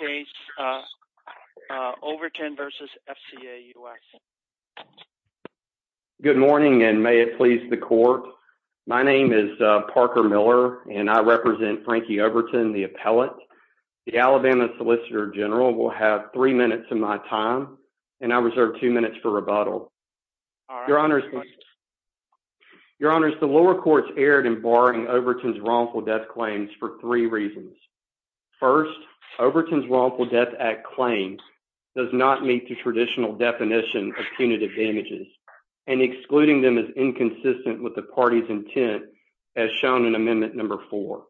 case Overton versus FCA US. Good morning and may it please the court. My name is Parker Miller and I represent Frankie Overton, the appellate. The Alabama Solicitor General will have three minutes of my time and I reserve two minutes for rebuttal. Your honors, your honors, the lower courts erred in this case. The Alabama Solicitor General's Wrongful Death Act claim does not meet the traditional definition of punitive damages and excluding them is inconsistent with the party's intent as shown in amendment number four.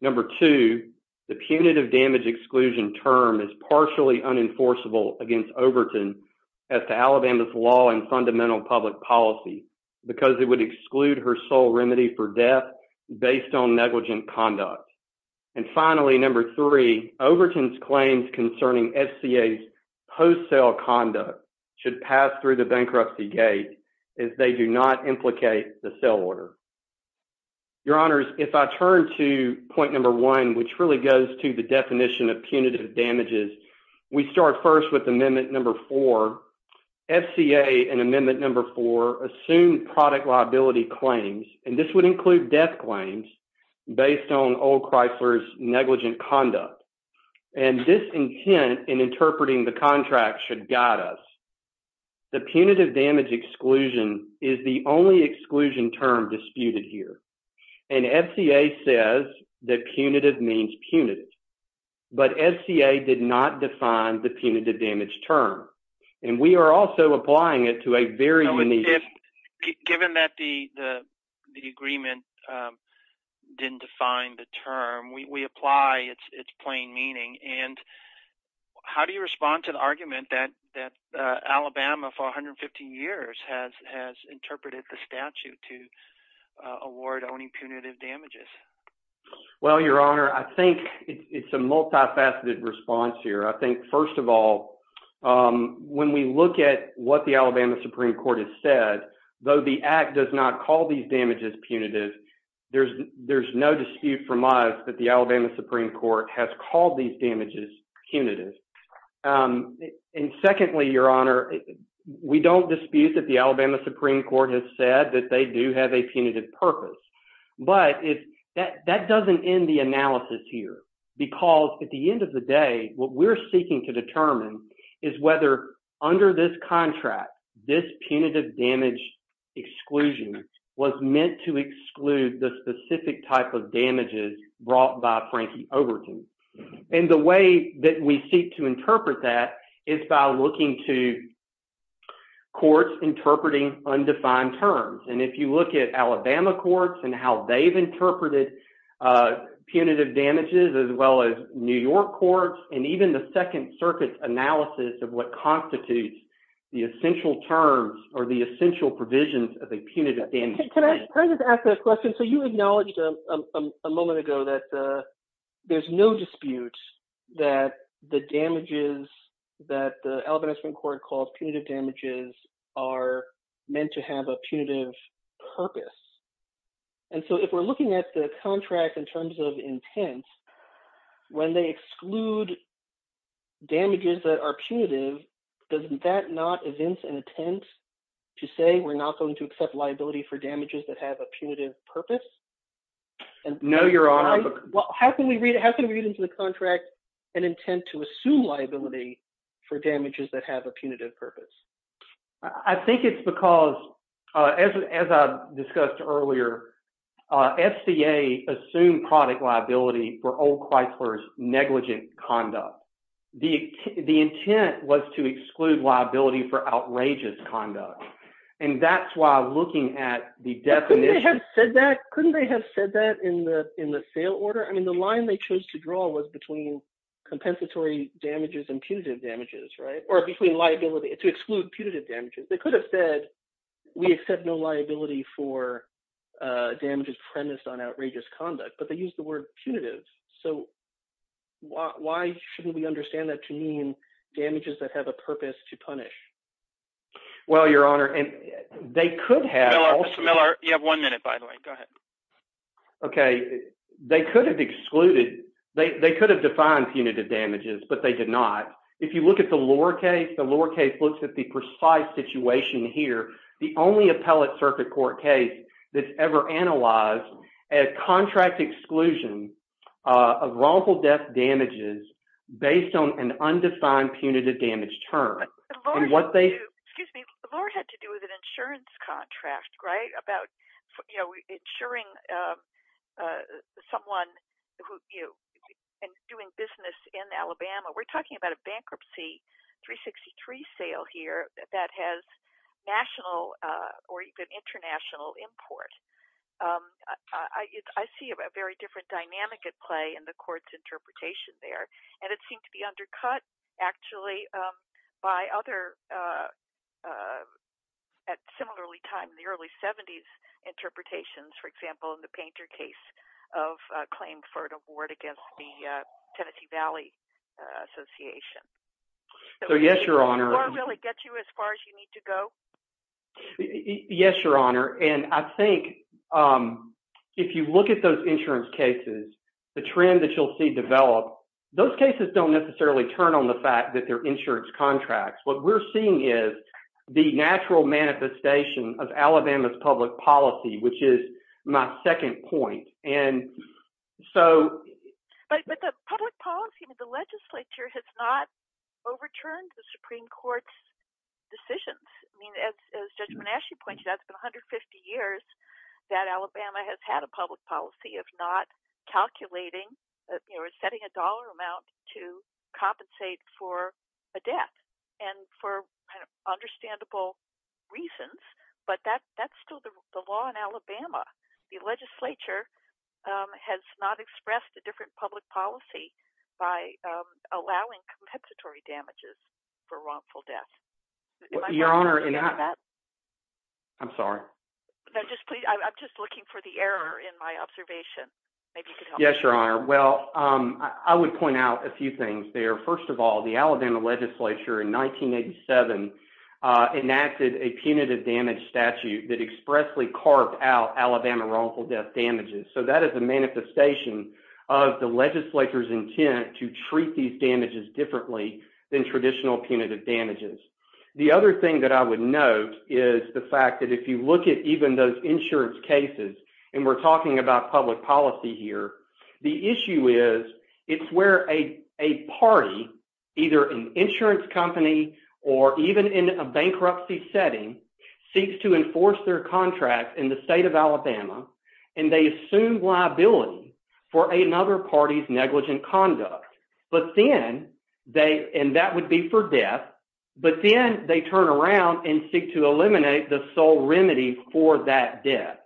Number two, the punitive damage exclusion term is partially unenforceable against Overton as to Alabama's law and fundamental public policy because it would exclude her sole remedy for death based on negligent conduct. And finally, number three, Overton's claims concerning FCA's post-sale conduct should pass through the bankruptcy gate if they do not implicate the sale order. Your honors, if I turn to point number one, which really goes to the definition of punitive damages, we start first with amendment number four. FCA in amendment number four assumed product liability claims and this would include death claims based on Old Chrysler's negligent conduct and this intent in interpreting the contract should guide us. The punitive damage exclusion is the only exclusion term disputed here and FCA says that punitive means punitive but FCA did not define the punitive damage term and we are also applying it to a very unique... Given that the the agreement didn't define the term, we apply its plain meaning and how do you respond to the argument that that Alabama for 150 years has interpreted the statute to award only punitive damages? Well, your honor, I think it's a multifaceted response here. I think first of all, when we look at what the Alabama Supreme Court has said, though the act does not call these damages punitive, there's no dispute from us that the Alabama Supreme Court has called these damages punitive and secondly, your honor, we don't dispute that the Alabama Supreme Court has said that they do have a punitive purpose but that doesn't end the analysis here because at the end of the day, what we need to determine is whether under this contract, this punitive damage exclusion was meant to exclude the specific type of damages brought by Frankie Overton and the way that we seek to interpret that is by looking to courts interpreting undefined terms and if you look at Alabama courts and how they've interpreted punitive damages as well as New York courts and even the Second Circuit's analysis of what constitutes the essential terms or the essential provisions of a punitive damage. Can I just ask a question? So you acknowledged a moment ago that there's no dispute that the damages that the Alabama Supreme Court calls punitive damages are meant to have a punitive purpose and so if we're looking at the contract in terms of intent, when they exclude damages that are punitive, doesn't that not evince an intent to say we're not going to accept liability for damages that have a punitive purpose? No, your honor. Well, how can we read into the contract an intent to assume liability for damages that have a punitive purpose? I think it's because as I discussed earlier, FCA assumed product liability for old Chrysler's negligent conduct. The intent was to exclude liability for outrageous conduct and that's why looking at the definition... Couldn't they have said that in the sale order? I mean the line they chose to draw was between compensatory damages and punitive damages, right? Or between liability to exclude punitive damages. They could have said we accept no liability for damages premised on liability. Why shouldn't we understand that to mean damages that have a purpose to punish? Well, your honor, they could have... Mr. Miller, you have one minute by the way. Go ahead. Okay, they could have excluded, they could have defined punitive damages, but they did not. If you look at the lower case, the lower case looks at the precise situation here. The only appellate circuit court case that's ever analyzed a contract exclusion of wrongful death damages based on an undefined punitive damage term. And what they... Excuse me, the lower had to do with an insurance contract, right? About, you know, insuring someone who, you know, doing business in Alabama. We're talking about a bankruptcy 363 sale here that has national or even international import. I see a very different dynamic at play in the court's interpretation there, and it seemed to be undercut actually by other, at similarly time, the early 70s interpretations. For example, in the Painter case of claim for an award against the Tennessee Valley Association. So yes, your honor... Did the lower really get you as far as you need to go? Yes, your honor, and I think if you look at those insurance cases, the trend that you'll see develop, those cases don't necessarily turn on the fact that they're insurance contracts. What we're seeing is the natural manifestation of Alabama's public policy, which is my second point. And so... But the public policy, the legislature has not And as Judge Manasci pointed out, it's been 150 years that Alabama has had a public policy of not calculating, you know, setting a dollar amount to compensate for a death. And for understandable reasons, but that's still the law in Alabama. The legislature has not expressed a different public policy by allowing compensatory damages for wrongful death. Your honor... I'm sorry. I'm just looking for the error in my observation. Yes, your honor. Well, I would point out a few things there. First of all, the Alabama legislature in 1987 enacted a punitive damage statute that expressly carved out Alabama wrongful death damages. So that is a manifestation of the legislature's intent to treat these damages differently than traditional punitive damages. The other thing that I would note is the fact that if you look at even those insurance cases, and we're talking about public policy here, the issue is it's where a party, either an insurance company or even in a bankruptcy setting, seeks to enforce their contract in the state of Alabama, and they assume liability for another party's negligent conduct. But then they, and that would be for death, but then they turn around and seek to eliminate the sole remedy for that death.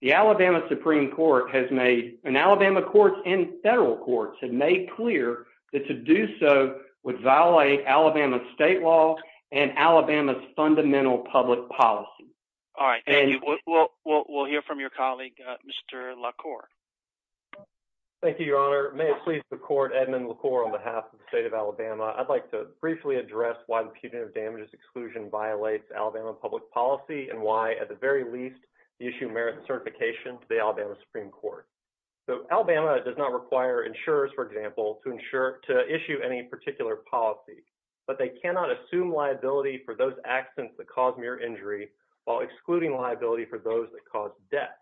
The Alabama Supreme Court has made, and Alabama courts and federal courts, have made clear that to do so would violate Alabama state law and Alabama's fundamental public policy. All right. We'll hear from your colleague, Mr. Edmund LaCour. Thank you, Your Honor. May it please the Court, Edmund LaCour on behalf of the state of Alabama, I'd like to briefly address why the punitive damages exclusion violates Alabama public policy and why, at the very least, the issue merits a certification to the Alabama Supreme Court. So Alabama does not require insurers, for example, to issue any particular policy, but they cannot assume liability for those accidents that cause mere injury while excluding liability for those that cause death.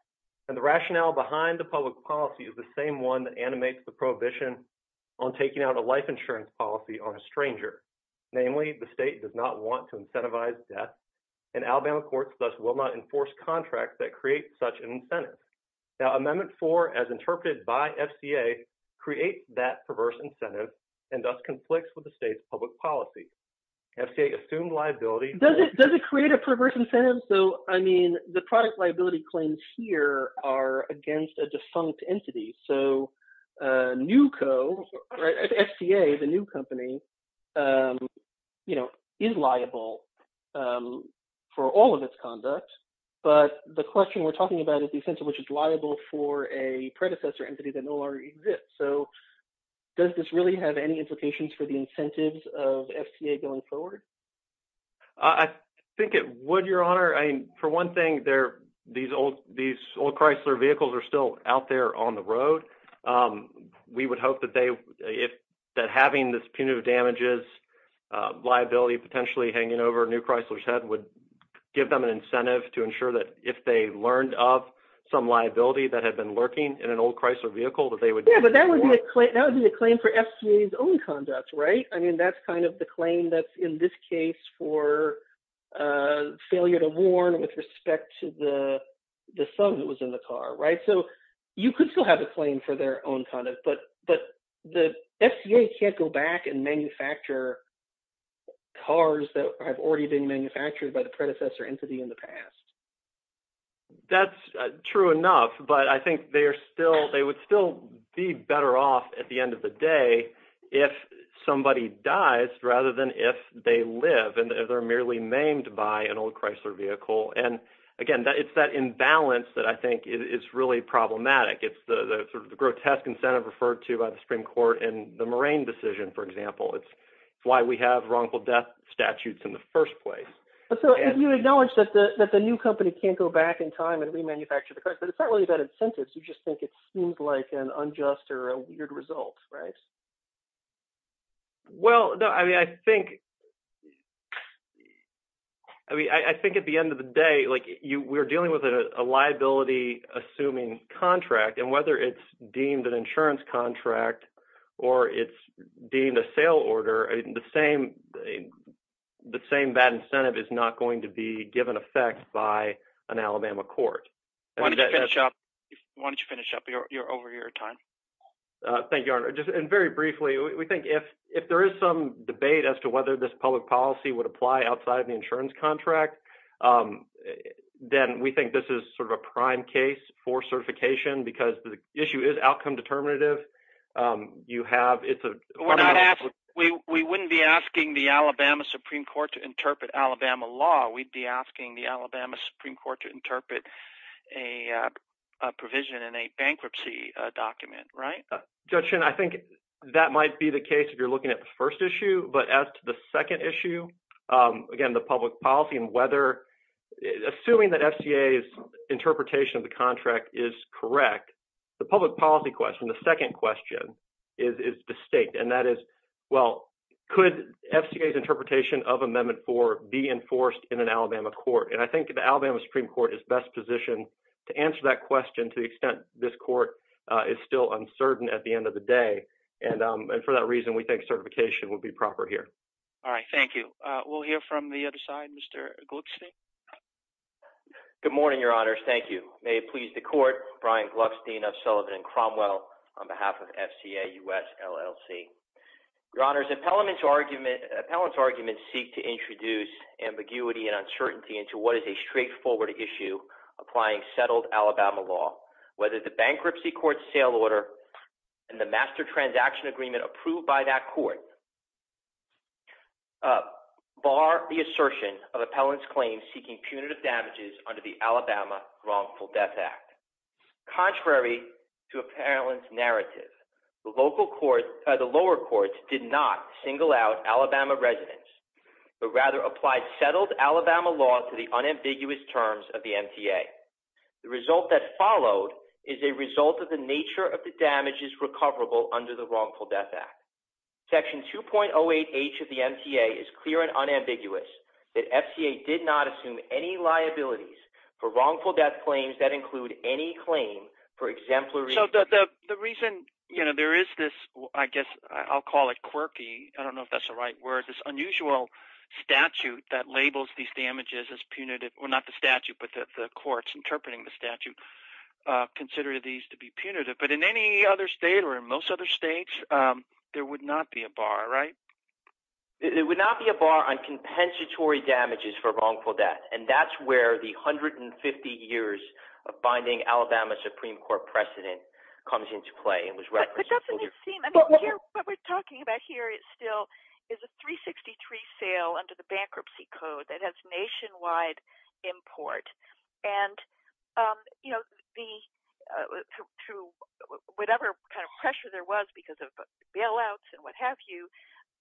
And the rationale behind the public policy is the same one that animates the prohibition on taking out a life insurance policy on a stranger. Namely, the state does not want to incentivize death, and Alabama courts thus will not enforce contracts that create such an incentive. Now Amendment 4, as interpreted by FCA, creates that perverse incentive and thus conflicts with the state's public policy. FCA assumed liability. Does it create a perverse incentive? So, I mean, the product liability claims here are against a defunct entity. So NUCO, FCA, the new company, you know, is liable for all of its conduct, but the question we're talking about is the incentive which is liable for a predecessor entity that no longer exists. So does this really have any implications for the incentives of I think it would, your honor. I mean, for one thing, these old Chrysler vehicles are still out there on the road. We would hope that they, if that having this punitive damages liability potentially hanging over a new Chrysler's head would give them an incentive to ensure that if they learned of some liability that had been lurking in an old Chrysler vehicle that they would... Yeah, but that would be a claim for FCA's own conduct, right? I mean, that's kind of the claim that's in this case for failure to warn with respect to the son that was in the car, right? So you could still have a claim for their own conduct, but the FCA can't go back and manufacture cars that have already been manufactured by the predecessor entity in the past. That's true enough, but I think they are still, they would still be better off at the size rather than if they live and they're merely maimed by an old Chrysler vehicle. And again, it's that imbalance that I think is really problematic. It's the sort of the grotesque incentive referred to by the Supreme Court in the Moraine decision, for example. It's why we have wrongful death statutes in the first place. So you acknowledge that the new company can't go back in time and remanufacture the cars, but it's not really about incentives. You just think it seems like an unjust or a weird result, right? Well, no, I mean, I think, I mean, I think at the end of the day, like, we're dealing with a liability-assuming contract, and whether it's deemed an insurance contract or it's deemed a sale order, the same bad incentive is not going to be given effect by an over-year time. Thank you, Your Honor. And very briefly, we think if there is some debate as to whether this public policy would apply outside of the insurance contract, then we think this is sort of a prime case for certification because the issue is outcome determinative. You have, it's a... We wouldn't be asking the Alabama Supreme Court to interpret Alabama law. We'd be asking the Alabama bankruptcy document, right? Judge Shin, I think that might be the case if you're looking at the first issue, but as to the second issue, again, the public policy and whether, assuming that FCA's interpretation of the contract is correct, the public policy question, the second question, is distinct, and that is, well, could FCA's interpretation of Amendment 4 be enforced in an Alabama court? And I think the Alabama Supreme Court is best positioned to answer that because the court is still uncertain at the end of the day, and for that reason, we think certification would be proper here. All right, thank you. We'll hear from the other side. Mr. Gluckstein? Good morning, Your Honors. Thank you. May it please the court, Brian Gluckstein of Sullivan and Cromwell, on behalf of FCA US LLC. Your Honors, appellants' arguments seek to introduce ambiguity and uncertainty into what is a straightforward issue applying settled Alabama law, whether the bankruptcy court's sale order and the master transaction agreement approved by that court bar the assertion of appellants' claims seeking punitive damages under the Alabama Wrongful Death Act. Contrary to appellants' narrative, the lower courts did not single out Alabama residents, but rather applied settled Alabama law to the unambiguous terms of the MTA. The result that followed is a result of the nature of the damages recoverable under the Wrongful Death Act. Section 2.08H of the MTA is clear and unambiguous that FCA did not assume any liabilities for wrongful death claims that include any claim for exemplary... So the reason, you know, there is this, I guess I'll call it quirky, I don't know if that's the right word, this unusual statute that labels these damages as punitive, or not the statute, but that the courts interpreting the statute consider these to be punitive, but in any other state or in most other states there would not be a bar, right? It would not be a bar on compensatory damages for wrongful death, and that's where the 150 years of finding Alabama Supreme Court precedent comes into play and was referenced. But doesn't it seem, I mean, what we're talking about here is still is a 363 sale under the Supreme Court. And, you know, through whatever kind of pressure there was because of bailouts and what have you,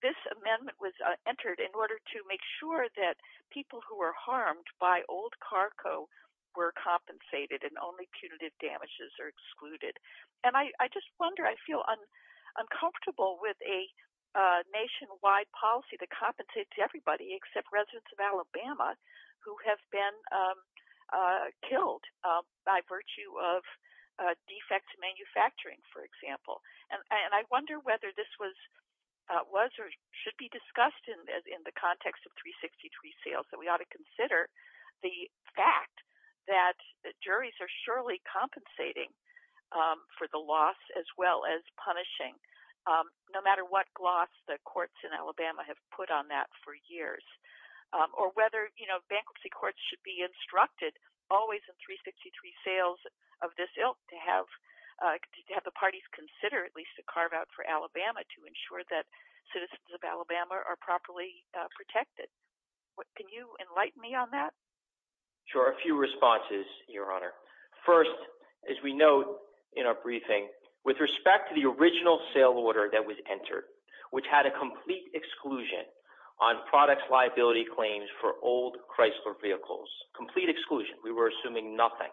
this amendment was entered in order to make sure that people who were harmed by old carco were compensated and only punitive damages are excluded. And I just wonder, I feel uncomfortable with a nationwide policy that compensates everybody except residents of Alabama who have been killed by virtue of defect manufacturing, for example. And I wonder whether this was, was or should be discussed in the context of 363 sales, that we ought to consider the fact that the juries are surely compensating for the loss as well as punishing, no matter what gloss the or whether, you know, bankruptcy courts should be instructed always in 363 sales of this ilk to have, to have the parties consider at least a carve-out for Alabama to ensure that citizens of Alabama are properly protected. What, can you enlighten me on that? Sure, a few responses, Your Honor. First, as we note in our briefing, with respect to the original sale order that was entered, which had a complete exclusion on product liability claims for old Chrysler vehicles. Complete exclusion. We were assuming nothing.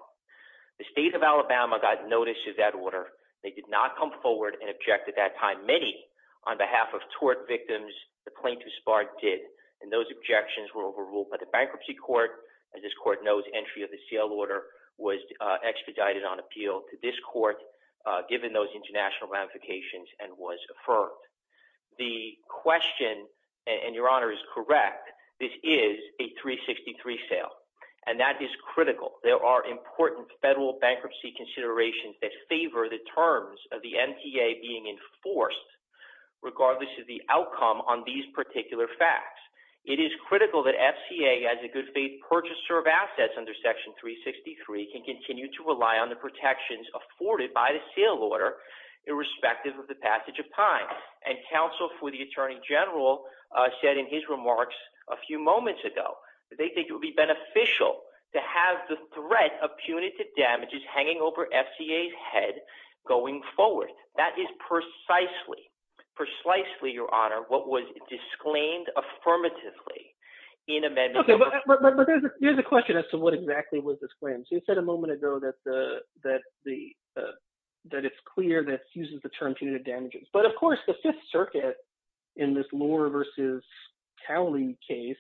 The state of Alabama got notice of that order. They did not come forward and object at that time. Many, on behalf of tort victims, the plaintiff's part did. And those objections were overruled by the Bankruptcy Court. As this court knows, entry of the sale order was expedited on appeal to this court, given those national ramifications, and was affirmed. The question, and Your Honor is correct, this is a 363 sale. And that is critical. There are important federal bankruptcy considerations that favor the terms of the MTA being enforced, regardless of the outcome on these particular facts. It is critical that FCA, as a good faith purchaser of assets under Section 363, can continue to rely on the protections afforded by the sale order, irrespective of the passage of time. And counsel for the Attorney General said in his remarks a few moments ago, that they think it would be beneficial to have the threat of punitive damages hanging over FCA's head going forward. That is precisely, precisely, Your Honor, what was disclaimed affirmatively in amendment. Okay, but there's a question as to what exactly was disclaimed. So you said a moment ago that it's clear that it uses the term punitive damages. But of course, the Fifth Circuit in this Lohr versus Cowley case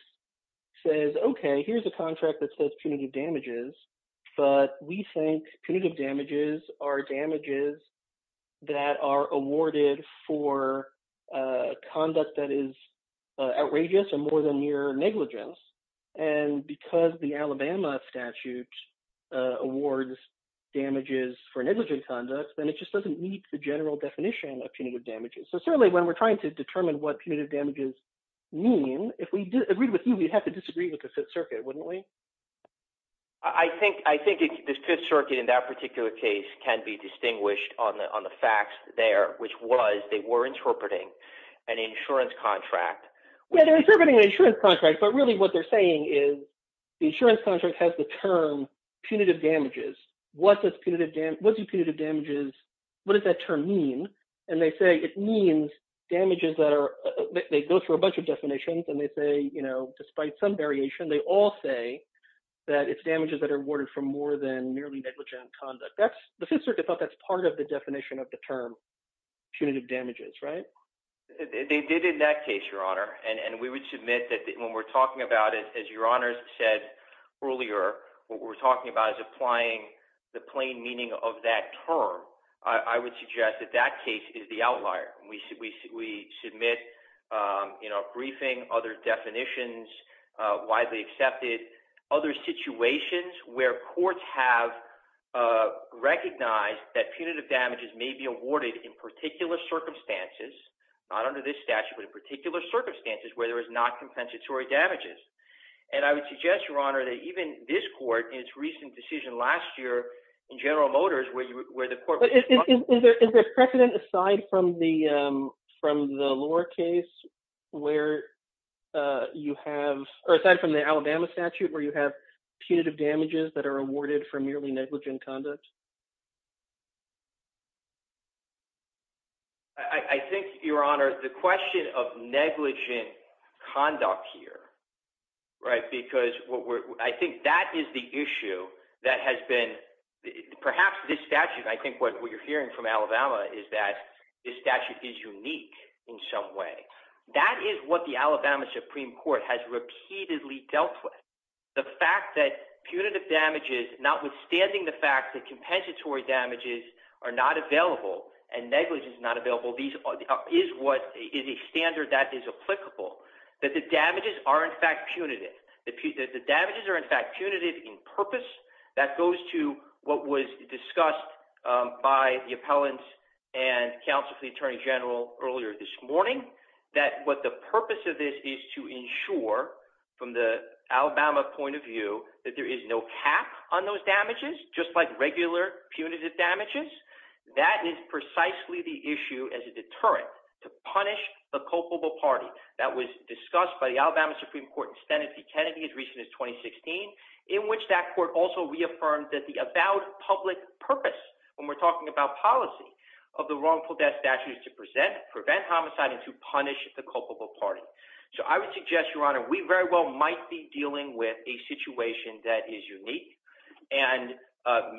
says, okay, here's a contract that says punitive damages, but we think punitive damages are damages that are awarded for conduct that is in statute, awards damages for negligent conduct, then it just doesn't meet the general definition of punitive damages. So certainly when we're trying to determine what punitive damages mean, if we agreed with you, we'd have to disagree with the Fifth Circuit, wouldn't we? I think the Fifth Circuit in that particular case can be distinguished on the facts there, which was they were interpreting an insurance contract. Well, they're interpreting an insurance contract, but really what they're saying is the insurance contract has the term punitive damages. What does punitive damage, what do punitive damages, what does that term mean? And they say it means damages that are, they go through a bunch of definitions, and they say, you know, despite some variation, they all say that it's damages that are awarded for more than merely negligent conduct. That's, the Fifth Circuit thought that's part of the definition of the term punitive damages, right? They did in that case, Your Honor, and we would submit that when we're talking about it, as Your Honor said earlier, what we're talking about is applying the plain meaning of that term. I would suggest that that case is the outlier. We submit, you know, a briefing, other definitions widely accepted, other situations where courts have recognized that punitive damages may be awarded in particular circumstances, not under this statute, but in particular circumstances where there is not compensatory damages. And I would suggest, Your Honor, that even this court, in its recent decision last year in General Motors, where you, where the court... Is there precedent aside from the, from the lower case, where you have, or aside from the Alabama statute, where you have punitive damages that are awarded for merely negligent conduct? I think, Your Honor, the question of negligent conduct here, right, because what we're, I think that is the issue that has been, perhaps this statute, I think what you're hearing from Alabama is that this statute is unique in some way. That is what the Alabama Supreme Court has repeatedly dealt with. The fact that punitive damages, notwithstanding the fact that compensatory damages are not available, and negligence is not available, these are, is what is a standard that is applicable. That the damages are in fact punitive. That the damages are in fact punitive in purpose. That goes to what was discussed by the appellants and counsel to the Attorney General earlier this morning. That what the purpose of this is to ensure, from the Alabama point of view, that there is no cap on those damages, just like regular punitive damages. That is precisely the issue as a deterrent to punish the culpable party. That was discussed by the Alabama Supreme Court in Senate v. Kennedy as recent as 2016, in which that court also reaffirmed that the about public purpose, when we're talking about policy, of the wrongful death statute is to present, prevent homicide, and to punish the culpable party. So I would suggest, Your Honor, we very well might be dealing with a situation that is unique, and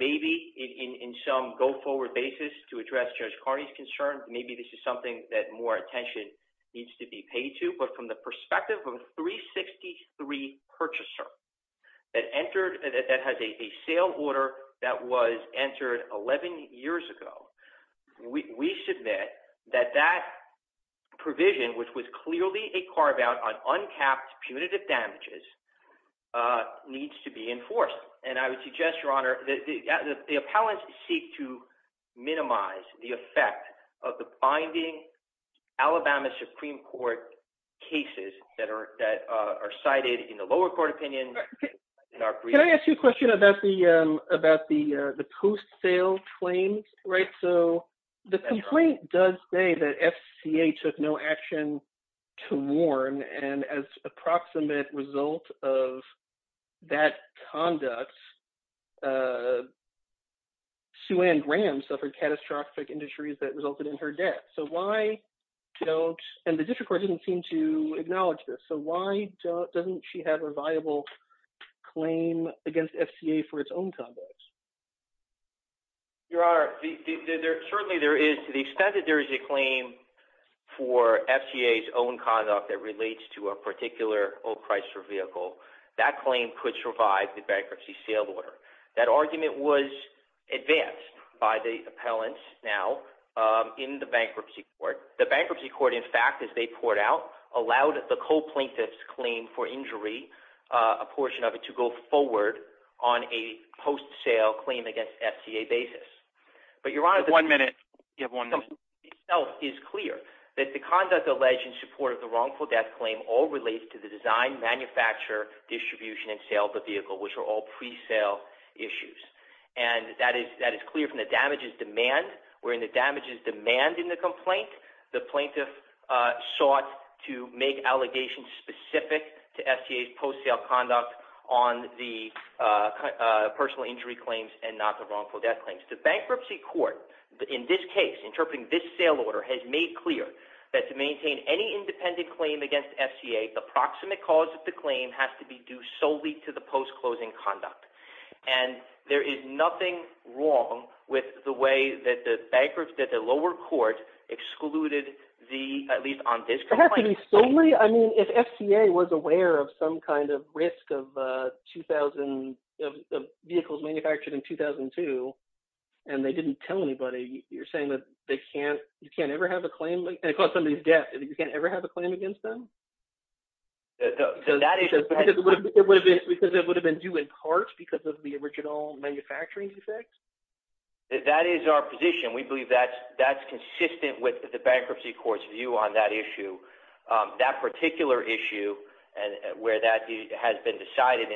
maybe in some go-forward basis to address Judge Carney's concerns, maybe this is something that more attention needs to be paid to. But from the perspective of a 363 purchaser that entered, that has a sale order that was entered 11 years ago, we submit that that provision, which was clearly a carve-out on uncapped punitive damages, needs to be enforced. And I would suggest, Your Honor, that the appellants seek to minimize the effect of the binding Alabama Supreme Court cases that are that are cited in the lower court opinion. Can I ask you a question about the post-sale claims? Right, so the complaint does say that FCA took no action to warn, and as approximate result of that conduct, Sue Ann Graham suffered catastrophic injuries that resulted in her death. So why don't, and the district court didn't seem to acknowledge this, so why doesn't she have a viable claim against FCA for its own conduct? Your Honor, certainly there is, to the extent that there is a claim for FCA's own conduct that relates to a particular old Chrysler vehicle, that claim could survive the bankruptcy sale order. That argument was advanced by the appellants now in the bankruptcy court. The bankruptcy court, in fact, as they poured out, allowed the co-plaintiff's claim for injury, a post-sale claim against FCA basis. But Your Honor, the complaint itself is clear that the conduct alleged in support of the wrongful death claim all relates to the design, manufacture, distribution, and sale of the vehicle, which are all pre-sale issues. And that is that is clear from the damages demand, wherein the damages demand in the complaint, the plaintiff sought to make allegations specific to personal injury claims and not the wrongful death claims. The bankruptcy court, in this case, interpreting this sale order, has made clear that to maintain any independent claim against FCA, the proximate cause of the claim has to be due solely to the post-closing conduct. And there is nothing wrong with the way that the lower court excluded the, at least on this I mean, if FCA was aware of some kind of risk of 2000 vehicles manufactured in 2002, and they didn't tell anybody, you're saying that they can't, you can't ever have a claim, and it caused somebody's death, you can't ever have a claim against them? Because it would have been due in part because of the original manufacturing defects? That is our position. We believe that that's not an issue. That particular issue, and where that has been decided.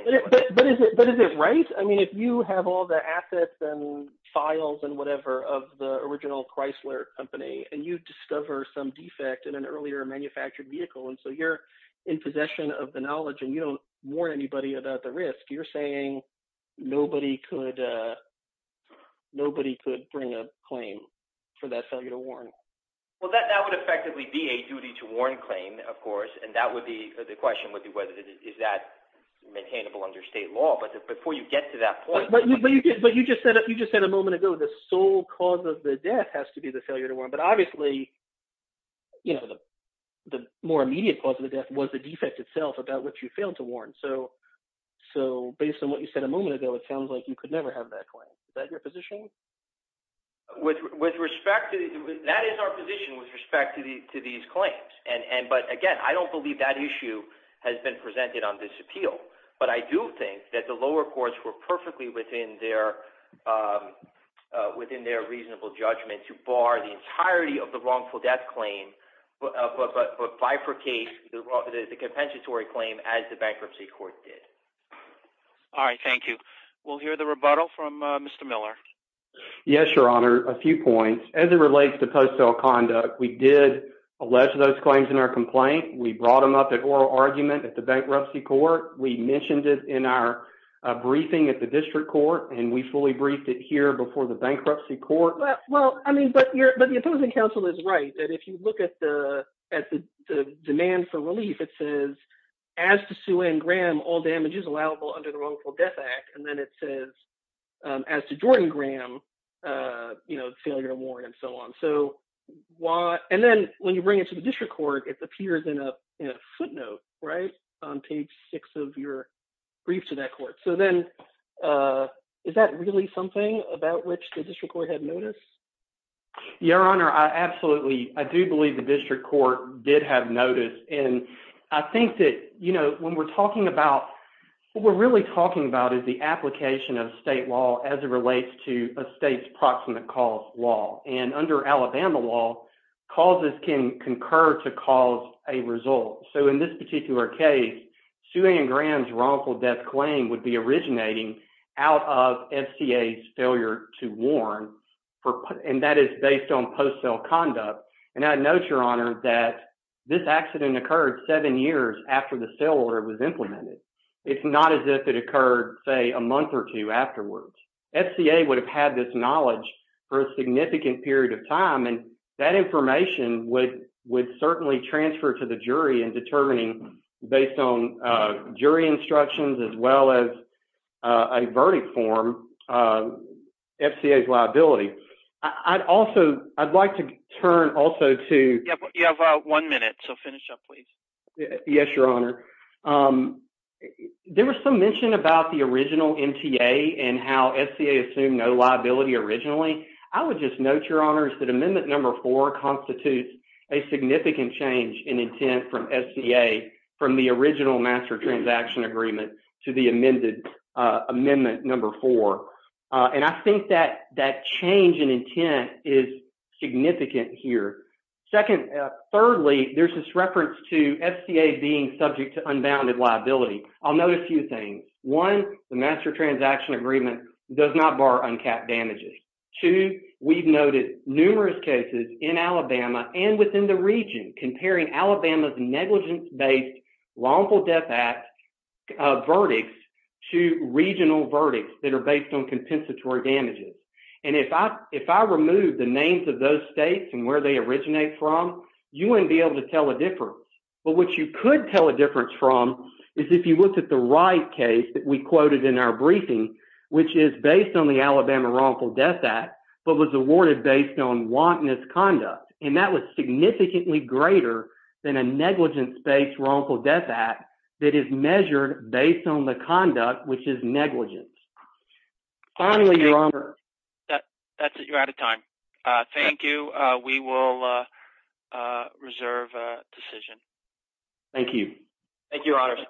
But is it right? I mean, if you have all the assets and files and whatever of the original Chrysler company, and you discover some defect in an earlier manufactured vehicle, and so you're in possession of the knowledge, and you don't warn anybody about the risk, you're saying nobody could, nobody could bring a claim for that failure to warrant? Well, that would effectively be a duty-to-warn claim, of course, and that would be, the question would be, is that maintainable under state law? But before you get to that point... But you just said a moment ago, the sole cause of the death has to be the failure to warrant. But obviously, you know, the more immediate cause of the death was the defect itself about which you failed to warrant. So, based on what you said a moment ago, it sounds like you could never have that claim. Is that your position? With respect to, that is our position with respect to these claims. And, but again, I don't believe that issue has been presented on this appeal. But I do think that the lower courts were perfectly within their reasonable judgment to bar the entirety of the wrongful death claim, but bifurcate the compensatory claim as the bankruptcy court did. All right, thank you. We'll hear the rebuttal from Mr. Miller. Yes, Your Honor, a few points. As it relates to post-sale conduct, we did allege those claims in our complaint. We brought them up at oral argument at the bankruptcy court. We mentioned it in our briefing at the district court, and we fully briefed it here before the bankruptcy court. Well, I mean, but the opposing counsel is right, that if you look at the demand for relief, it says, as to Sue Ann Graham, all damage is allowable under the wrongful death act. And then it says, as to Jordan Graham, you know, failure to warn and so on. So, and then when you bring it to the district court, it appears in a footnote, right, on page six of your brief to that court. So then, is that really something about which the district court had noticed? Your Honor, I absolutely, I do believe the district court did have notice. And I think that, you know, when we're talking about, what we're really talking about is the application of state law as it relates to a state's proximate cause law. And under Alabama law, causes can concur to cause a result. So in this particular case, Sue Ann Graham's wrongful death claim would be originating out of FCA's failure to warn, and that is based on post-sale conduct. And I note, Your Honor, that this accident occurred seven years after the sale order was implemented. It's not as if it occurred, say, a month or two afterwards. FCA would have had this knowledge for a significant period of time, and that information would certainly transfer to the jury in determining, based on jury instructions as well as a verdict form, FCA's liability. I'd also, I'd like to turn also to You have one minute, so finish up, please. Yes, Your Honor. There was some mention about the original MTA and how FCA assumed no liability originally. I would just note, Your Honor, that there was a significant change in intent from FCA from the original master transaction agreement to the amended, amendment number four. And I think that that change in intent is significant here. Secondly, thirdly, there's this reference to FCA being subject to unbounded liability. I'll note a few things. One, the master transaction agreement does not bar uncapped damages. Two, we've noted numerous cases in Alabama and within the region comparing Alabama's negligence-based Wrongful Death Act verdicts to regional verdicts that are based on compensatory damages. And if I remove the names of those states and where they originate from, you wouldn't be able to tell a difference. But what you could tell a difference from is if you looked at the Wright case that we quoted in our briefing, which is based on the Alabama Wrongful Death Act, but was awarded based on wantonness conduct. And that was significantly greater than a negligence-based Wrongful Death Act that is measured based on the conduct, which is negligence. Finally, Your Honor. That's it. You're out of time. Thank you. We will Thank you. Thank you, Your Honor.